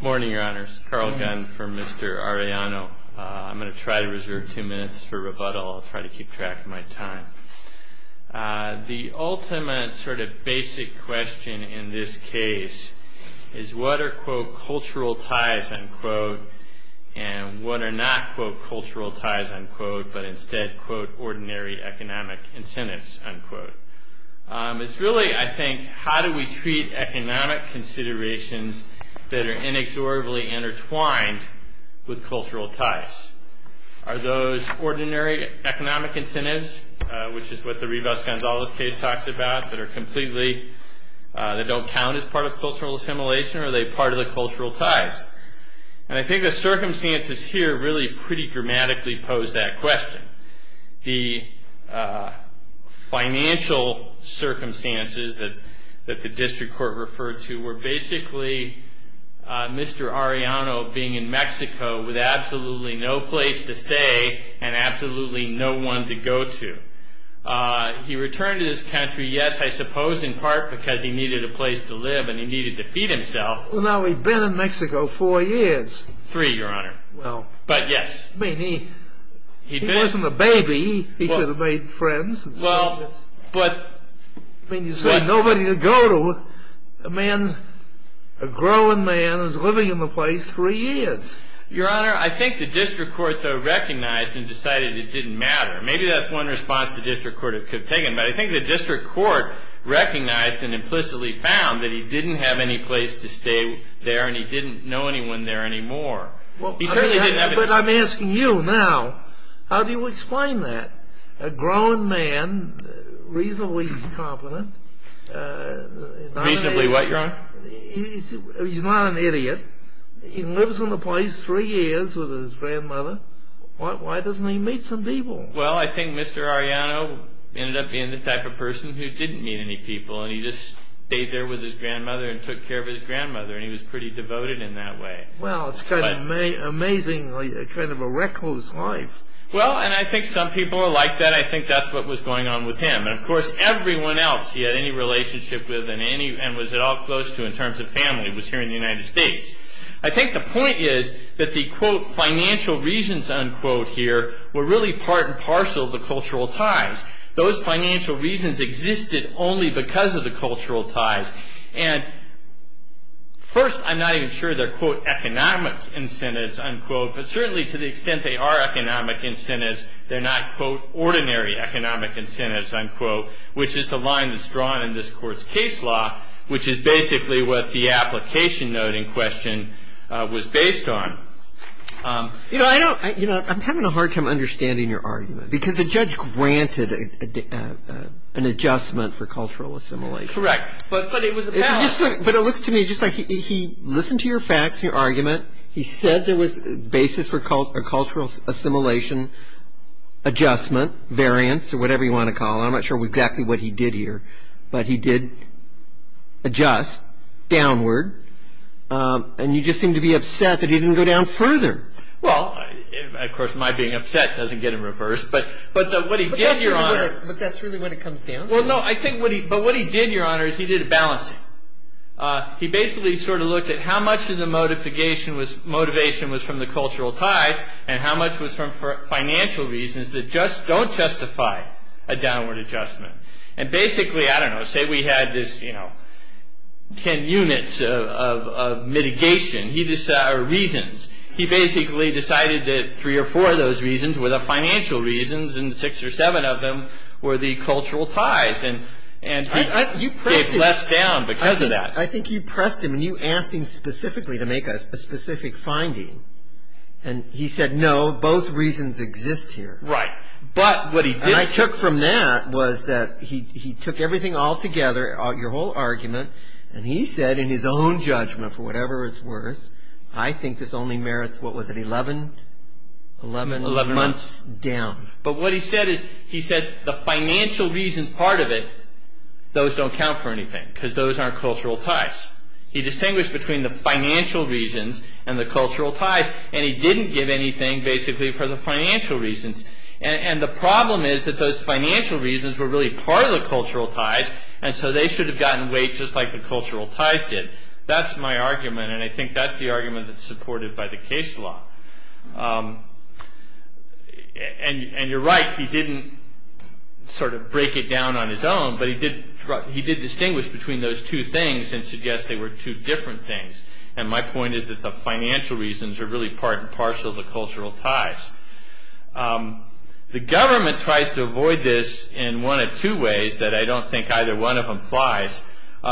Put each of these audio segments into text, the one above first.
Good morning, your honors. Carl Gunn from Mr. Arellano. I'm going to try to reserve two minutes for rebuttal. I'll try to keep track of my time. The ultimate sort of basic question in this case is what are, quote, cultural ties, unquote, and what are not, quote, cultural ties, unquote, but instead, quote, ordinary economic incentives, unquote. It's really, I think, how do we treat economic considerations that are inexorably intertwined with cultural ties? Are those ordinary economic incentives, which is what the Rivas-Gonzalez case talks about, that are completely, that don't count as part of cultural assimilation? Are they part of the cultural ties? And I think the circumstances here really pretty dramatically pose that question. The financial circumstances that the district court referred to were basically Mr. Arellano being in Mexico with absolutely no place to stay and absolutely no one to go to. He returned to this country, yes, I suppose in part because he needed a place to live and he needed to feed himself. Well, now, he'd been in Mexico four years. Three, Your Honor, but yes. I mean, he wasn't a baby. He could have made friends. Well, but... I mean, you said nobody to go to. A man, a growing man is living in the place three years. Your Honor, I think the district court, though, recognized and decided it didn't matter. Maybe that's one response the district court could have taken, but I think the district court recognized and implicitly found that he didn't have any place to stay there and he didn't know anyone there anymore. He certainly didn't have... But I'm asking you now, how do you explain that? A growing man, reasonably competent... Reasonably what, Your Honor? He's not an idiot. He lives in the place three years with his grandmother. Why doesn't he meet some people? Well, I think Mr. Arellano ended up being the type of person who didn't meet any people and he just stayed there with his grandmother and took care of his grandmother and he was pretty devoted in that way. Well, it's kind of amazing, kind of a wreck of his life. Well, and I think some people are like that. I think that's what was going on with him. And, of course, everyone else he had any relationship with and was at all close to in terms of family was here in the United States. I think the point is that the, quote, financial reasons, unquote, here were really part and parcel of the cultural ties. Those financial reasons existed only because of the cultural ties. And first, I'm not even sure they're, quote, economic incentives, unquote, but certainly to the extent they are economic incentives, they're not, quote, ordinary economic incentives, unquote, which is the line that's drawn in this court's case law, which is basically what the application note in question was based on. You know, I'm having a hard time understanding your argument because the judge granted an adjustment for cultural assimilation. Correct. But it looks to me just like he listened to your facts and your argument. He said there was a basis for cultural assimilation adjustment, variance, or whatever you want to call it. I'm not sure exactly what he did here, but he did adjust downward. And you just seem to be upset that he didn't go down further. Well, of course, my being upset doesn't get in reverse, but what he did, Your Honor. But that's really when it comes down to it. Well, no, I think what he did, Your Honor, is he did a balancing. He basically sort of looked at how much of the motivation was from the cultural ties and how much was from financial reasons that don't justify a downward adjustment. And basically, I don't know, say we had this, you know, 10 units of mitigation or reasons. He basically decided that three or four of those reasons were the financial reasons and six or seven of them were the cultural ties. And he gave less down because of that. I think you pressed him and you asked him specifically to make a specific finding. And he said, no, both reasons exist here. Right, but what he did... And I took from that was that he took everything all together, your whole argument, and he said in his own judgment, for whatever it's worth, I think this only merits, what was it, 11 months down. But what he said is, he said the financial reasons part of it, those don't count for anything because those aren't cultural ties. He distinguished between the financial reasons and the cultural ties and he didn't give anything basically for the financial reasons. And the problem is that those financial reasons were really part of the cultural ties and so they should have gotten weight just like the cultural ties did. That's my argument and I think that's the argument that's supported by the case law. And you're right, he didn't sort of break it down on his own, but he did distinguish between those two things and suggest they were two different things. And my point is that the financial reasons are really part and parcel of the cultural ties. The government tries to avoid this in one of two ways that I don't think either one of them flies.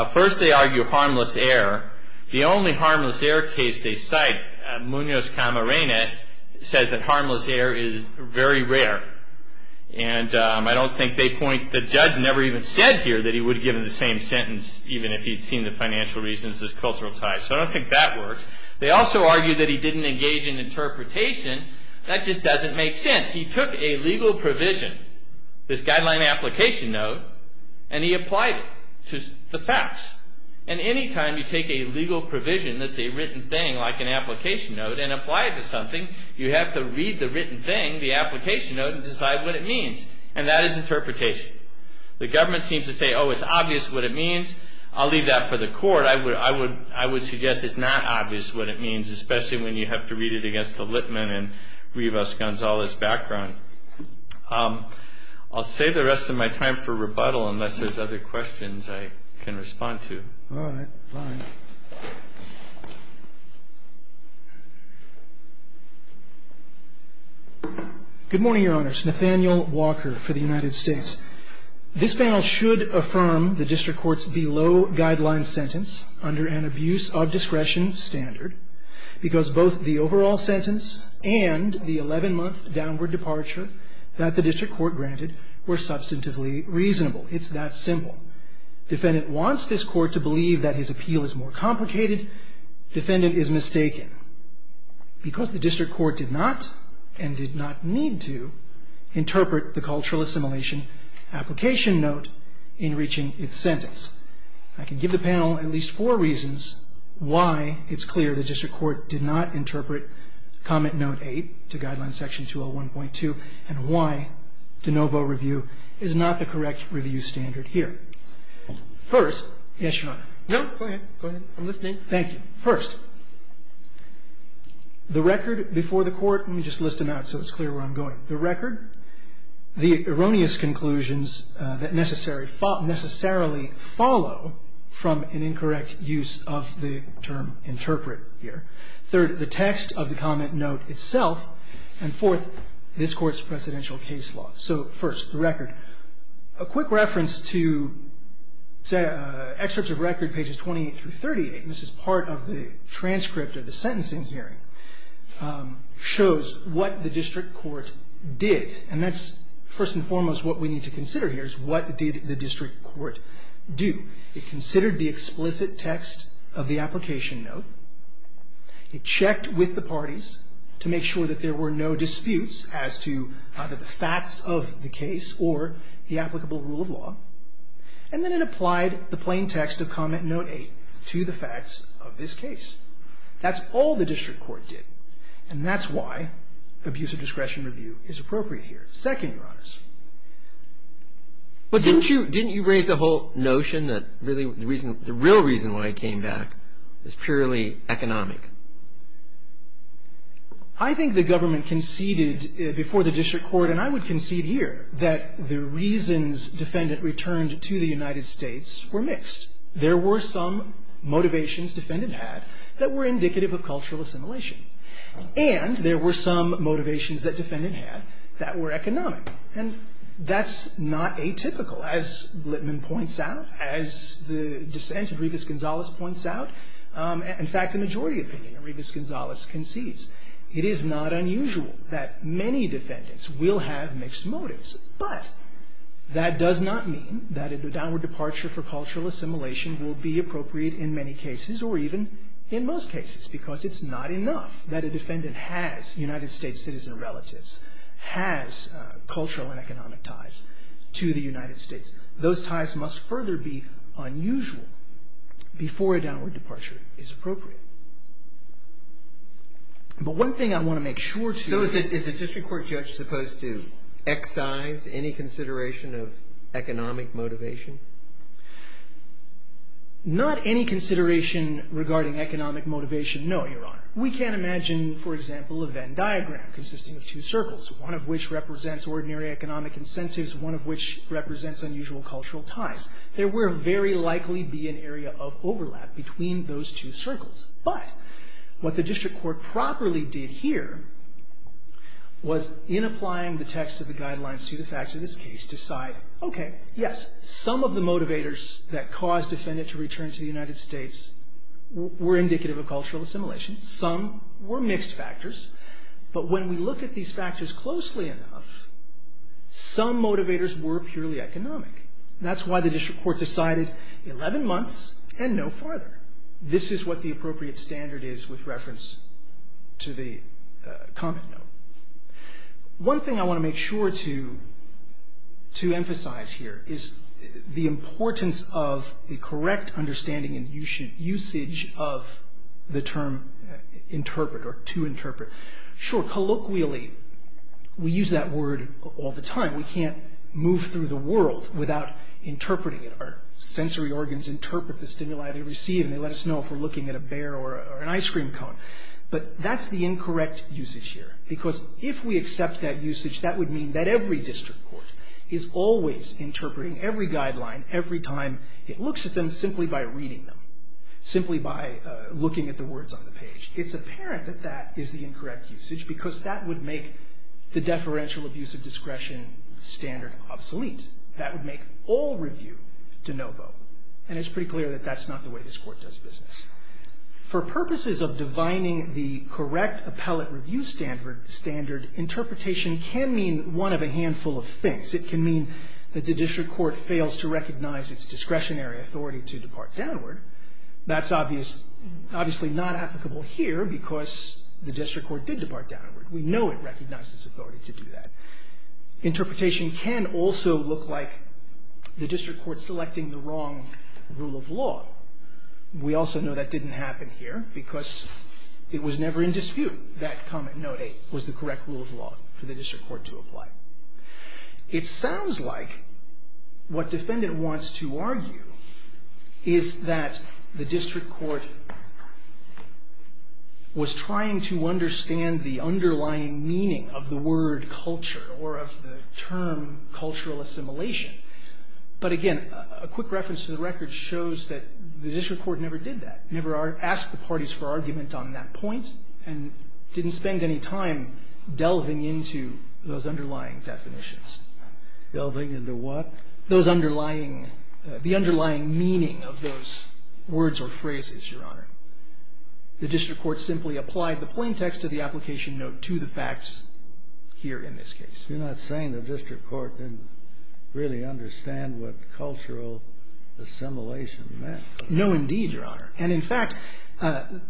First, they argue harmless error. The only harmless error case they cite, Munoz-Camarena, says that harmless error is very rare. And I don't think they point, the judge never even said here that he would have given the same sentence even if he'd seen the financial reasons as cultural ties. So I don't think that worked. They also argue that he didn't engage in interpretation. That just doesn't make sense. He took a legal provision, this guideline application note, and he applied it to the facts. And any time you take a legal provision that's a written thing like an application note and apply it to something, you have to read the written thing, the application note, and decide what it means. And that is interpretation. The government seems to say, oh, it's obvious what it means. I'll leave that for the court. I would suggest it's not obvious what it means, especially when you have to read it against the Litman and Rivas-Gonzalez background. I'll save the rest of my time for rebuttal unless there's other questions I can respond to. All right. Fine. Good morning, Your Honors. Nathaniel Walker for the United States. This panel should affirm the district court's below-guideline sentence under an abuse-of-discretion standard because both the overall sentence and the 11-month downward departure that the district court granted were substantively reasonable. It's that simple. Defendant wants this court to believe that his appeal is more complicated. Defendant is mistaken. Because the district court did not, and did not need to, interpret the cultural assimilation application note in reaching its sentence. I can give the panel at least four reasons why it's clear the district court did not interpret Comment Note 8 to Guideline Section 201.2 and why de novo review is not the correct review standard here. First, yes, Your Honor. No, go ahead. Go ahead. I'm listening. Thank you. First, the record before the court, let me just list them out so it's clear where I'm going. The record, the erroneous conclusions that necessarily follow from an incorrect use of the term interpret here. Third, the text of the comment note itself. And fourth, this court's presidential case law. So first, the record. A quick reference to excerpts of record pages 28 through 38, and this is part of the transcript of the sentencing hearing, shows what the district court did. And that's first and foremost what we need to consider here is what did the district court do? It considered the explicit text of the application note. It checked with the parties to make sure that there were no disputes as to either the facts of the case or the applicable rule of law. And then it applied the plain text of Comment Note 8 to the facts of this case. That's all the district court did. And that's why abuse of discretion review is appropriate here. Second, Your Honors. But didn't you raise the whole notion that the real reason why it came back is purely economic? I think the government conceded before the district court, and I would concede here, that the reasons defendant returned to the United States were mixed. There were some motivations defendant had that were indicative of cultural assimilation. And there were some motivations that defendant had that were economic. And that's not atypical. As Blitman points out, as the dissent of Rivas-Gonzalez points out, in fact, the majority opinion of Rivas-Gonzalez concedes, it is not unusual that many defendants will have mixed motives. But that does not mean that a downward departure for cultural assimilation will be appropriate in many cases or even in most cases, because it's not enough that a defendant has United States citizen relatives, has cultural and economic ties to the United States. Those ties must further be unusual before a downward departure is appropriate. But one thing I want to make sure to... So is a district court judge supposed to excise any consideration of economic motivation? Not any consideration regarding economic motivation, no, Your Honor. We can imagine, for example, a Venn diagram consisting of two circles, one of which represents ordinary economic incentives, one of which represents unusual cultural ties. There will very likely be an area of overlap between those two circles. But what the district court properly did here was, in applying the text of the guidelines to the facts of this case, decide, okay, yes, some of the motivators that caused defendant to return to the United States were indicative of cultural assimilation. Some were mixed factors. But when we look at these factors closely enough, some motivators were purely economic. That's why the district court decided 11 months and no farther. This is what the appropriate standard is with reference to the comment note. One thing I want to make sure to emphasize here is the importance of the correct understanding and usage of the term interpret or to interpret. Sure, colloquially, we use that word all the time. We can't move through the world without interpreting it. Our sensory organs interpret the stimuli they receive, and they let us know if we're looking at a bear or an ice cream cone. But that's the incorrect usage here because if we accept that usage, that would mean that every district court is always interpreting every guideline every time it looks at them simply by reading them, simply by looking at the words on the page. It's apparent that that is the incorrect usage because that would make the deferential abuse of discretion standard obsolete. That would make all review de novo. And it's pretty clear that that's not the way this court does business. For purposes of divining the correct appellate review standard, interpretation can mean one of a handful of things. It can mean that the district court fails to recognize its discretionary authority to depart downward. That's obviously not applicable here because the district court did depart downward. We know it recognizes authority to do that. Interpretation can also look like the district court selecting the wrong rule of law. We also know that didn't happen here because it was never in dispute that Comment Note 8 was the correct rule of law for the district court to apply. It sounds like what defendant wants to argue is that the district court was trying to understand the underlying meaning of the word culture or of the term cultural assimilation. But again, a quick reference to the record shows that the district court never did that, never asked the parties for argument on that point, and didn't spend any time delving into those underlying definitions. Delving into what? Those underlying, the underlying meaning of those words or phrases, Your Honor. The district court simply applied the plain text of the application note to the facts here in this case. You're not saying the district court didn't really understand what cultural assimilation meant? No, indeed, Your Honor. And in fact,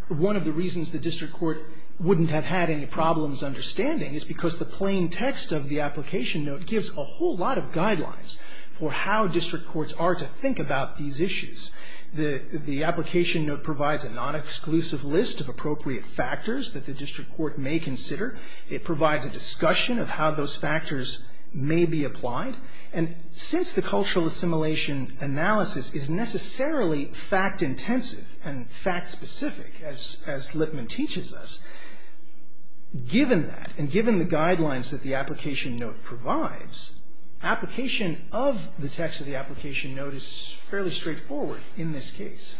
one of the reasons the district court wouldn't have had any problems understanding is because the plain text of the application note gives a whole lot of guidelines for how district courts are to think about these issues. The application note provides a non-exclusive list of appropriate factors that the district court may consider. It provides a discussion of how those factors may be applied. And since the cultural assimilation analysis is necessarily fact-intensive and fact-specific, as Lippman teaches us, given that and given the guidelines that the application note provides, application of the text of the application note is fairly straightforward in this case.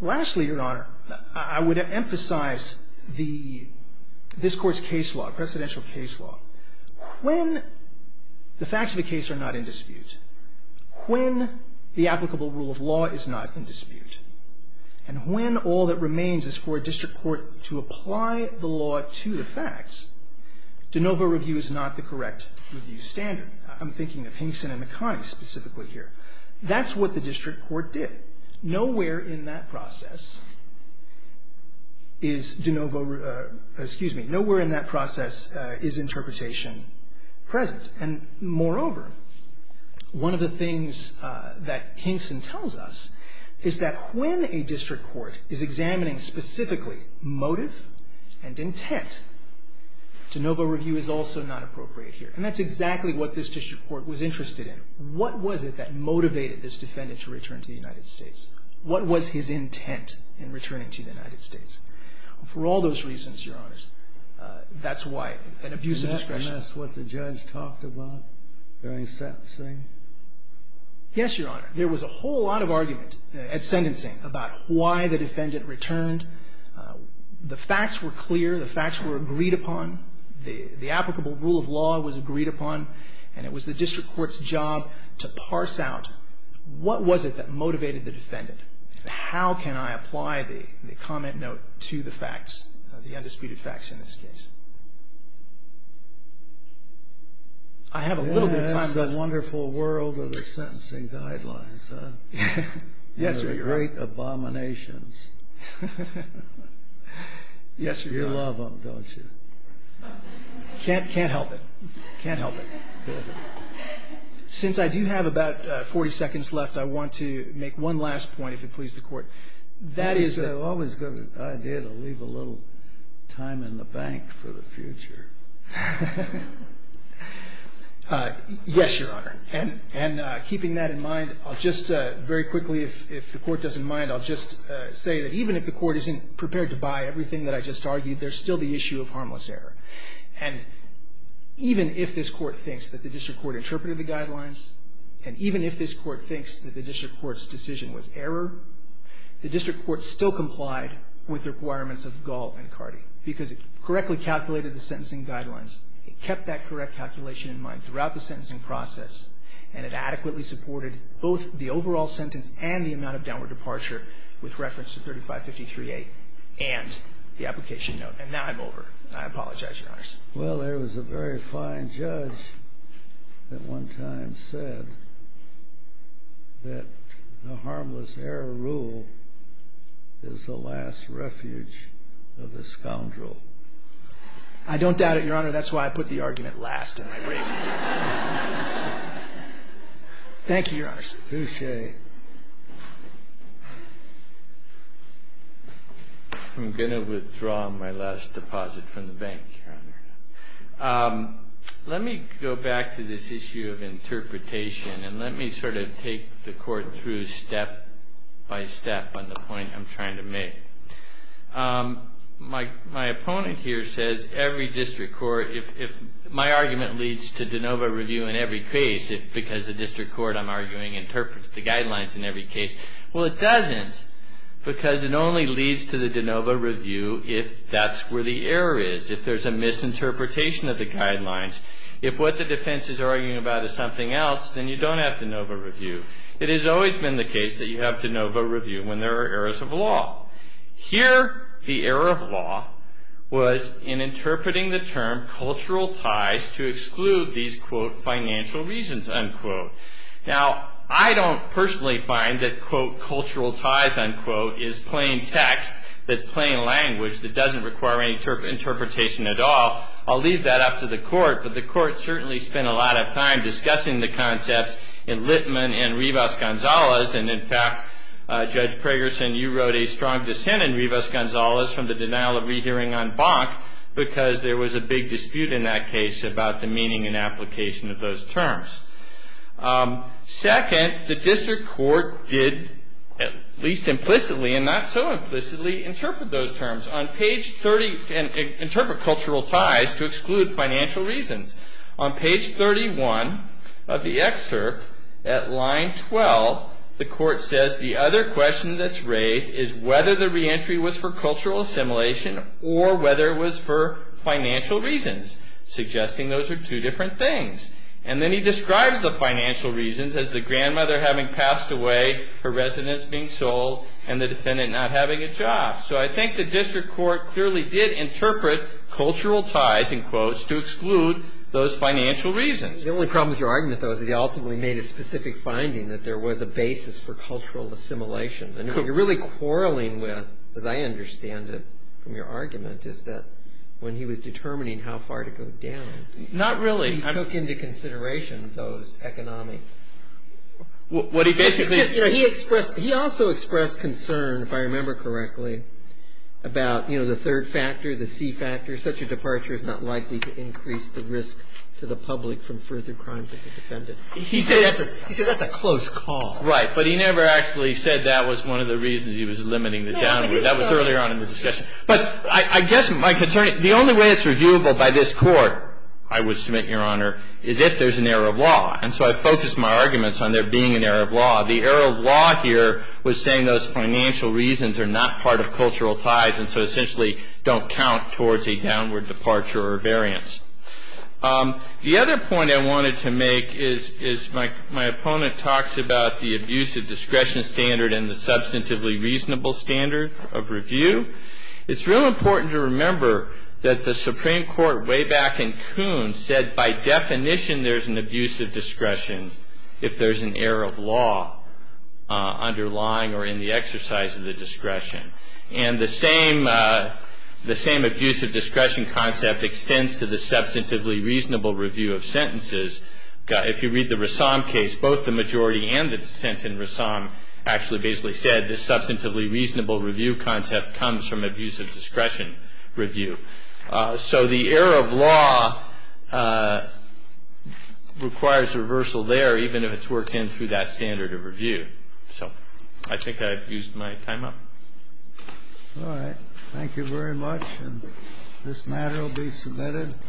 Lastly, Your Honor, I would emphasize this court's case law, presidential case law. When the facts of the case are not in dispute, when the applicable rule of law is not in dispute, and when all that remains is for a district court to apply the law to the facts, de novo review is not the correct review standard. I'm thinking of Hinkson and McConney specifically here. That's what the district court did. Nowhere in that process is interpretation present. And moreover, one of the things that Hinkson tells us is that when a district court is examining specifically motive and intent, de novo review is also not appropriate here. And that's exactly what this district court was interested in. What was it that motivated this defendant to return to the United States? What was his intent in returning to the United States? For all those reasons, Your Honors, that's why an abuse of discretion. And that's what the judge talked about during sentencing? Yes, Your Honor. There was a whole lot of argument at sentencing about why the defendant returned. The facts were clear. The facts were agreed upon. The applicable rule of law was agreed upon. And it was the district court's job to parse out what was it that motivated the defendant? How can I apply the comment note to the facts, the undisputed facts in this case? I have a little bit of time left. That's the wonderful world of the sentencing guidelines. Yes, Your Honor. They're great abominations. Yes, Your Honor. You love them, don't you? Can't help it. Can't help it. Since I do have about 40 seconds left, I want to make one last point, if it pleases the Court. That is a always good idea to leave a little time in the bank for the future. Yes, Your Honor. And keeping that in mind, I'll just very quickly, if the Court doesn't mind, I'll just say that even if the Court isn't prepared to buy everything that I just argued, there's still the issue of harmless error. And even if this Court thinks that the district court interpreted the guidelines, and even if this Court thinks that the district court's decision was error, the district court still complied with the requirements of Gall and Cardi because it correctly calculated the sentencing guidelines. It kept that correct calculation in mind throughout the sentencing process, and it adequately supported both the overall sentence and the amount of downward departure with reference to 3553A and the application note. And now I'm over. I apologize, Your Honors. Well, there was a very fine judge that one time said that the harmless error rule is the last refuge of the scoundrel. I don't doubt it, Your Honor. That's why I put the argument last in my brief. Thank you, Your Honors. Scalia. I'm going to withdraw my last deposit from the bank, Your Honor. Let me go back to this issue of interpretation, and let me sort of take the Court through step by step on the point I'm trying to make. My opponent here says every district court, if my argument leads to de novo review in every case because the district court, I'm arguing, interprets the guidelines in every case. Well, it doesn't because it only leads to the de novo review if that's where the error is, if there's a misinterpretation of the guidelines. If what the defense is arguing about is something else, then you don't have de novo review. It has always been the case that you have de novo review when there are errors of law. Here, the error of law was in interpreting the term cultural ties to exclude these quote, financial reasons, unquote. Now, I don't personally find that quote, cultural ties, unquote, is plain text that's plain language that doesn't require any interpretation at all. I'll leave that up to the Court, but the Court certainly spent a lot of time discussing the concepts in Littman and Rivas-Gonzalez. And, in fact, Judge Pragerson, you wrote a strong dissent in Rivas-Gonzalez from the denial of rehearing on Bonk because there was a big dispute in that case about the meaning and application of those terms. Second, the district court did, at least implicitly and not so implicitly, interpret those terms on page 30 and interpret cultural ties to exclude financial reasons. On page 31 of the excerpt, at line 12, the Court says the other question that's raised is whether the reentry was for cultural assimilation or whether it was for financial reasons, suggesting those are two different things. And then he describes the financial reasons as the grandmother having passed away, her residence being sold, and the defendant not having a job. So I think the district court clearly did interpret cultural ties, in quotes, to exclude those financial reasons. The only problem with your argument, though, is he ultimately made a specific finding that there was a basis for cultural assimilation. And what you're really quarreling with, as I understand it from your argument, is that when he was determining how far to go down, he took into consideration those economic What he basically He also expressed concern, if I remember correctly, about, you know, the third factor, the C factor, such a departure is not likely to increase the risk to the public from further crimes of the defendant. He said that's a close call. Right. But he never actually said that was one of the reasons he was limiting the downward. That was earlier on in the discussion. But I guess my concern, the only way it's reviewable by this Court, I would submit, Your Honor, is if there's an error of law. And so I focused my arguments on there being an error of law. The error of law here was saying those financial reasons are not part of cultural ties and so essentially don't count towards a downward departure or variance. The other point I wanted to make is my opponent talks about the abuse of discretion standard and the substantively reasonable standard of review. It's real important to remember that the Supreme Court way back in Coon said, by definition, there's an abuse of discretion if there's an error of law underlying or in the exercise of the discretion. And the same abuse of discretion concept extends to the substantively reasonable review of sentences. If you read the Rassam case, both the majority and the dissent in Rassam actually basically said this substantively reasonable review concept comes from abuse of discretion review. So the error of law requires reversal there, even if it's worked in through that standard of review. So I think I've used my time up. All right. Thank you very much. And this matter will be submitted.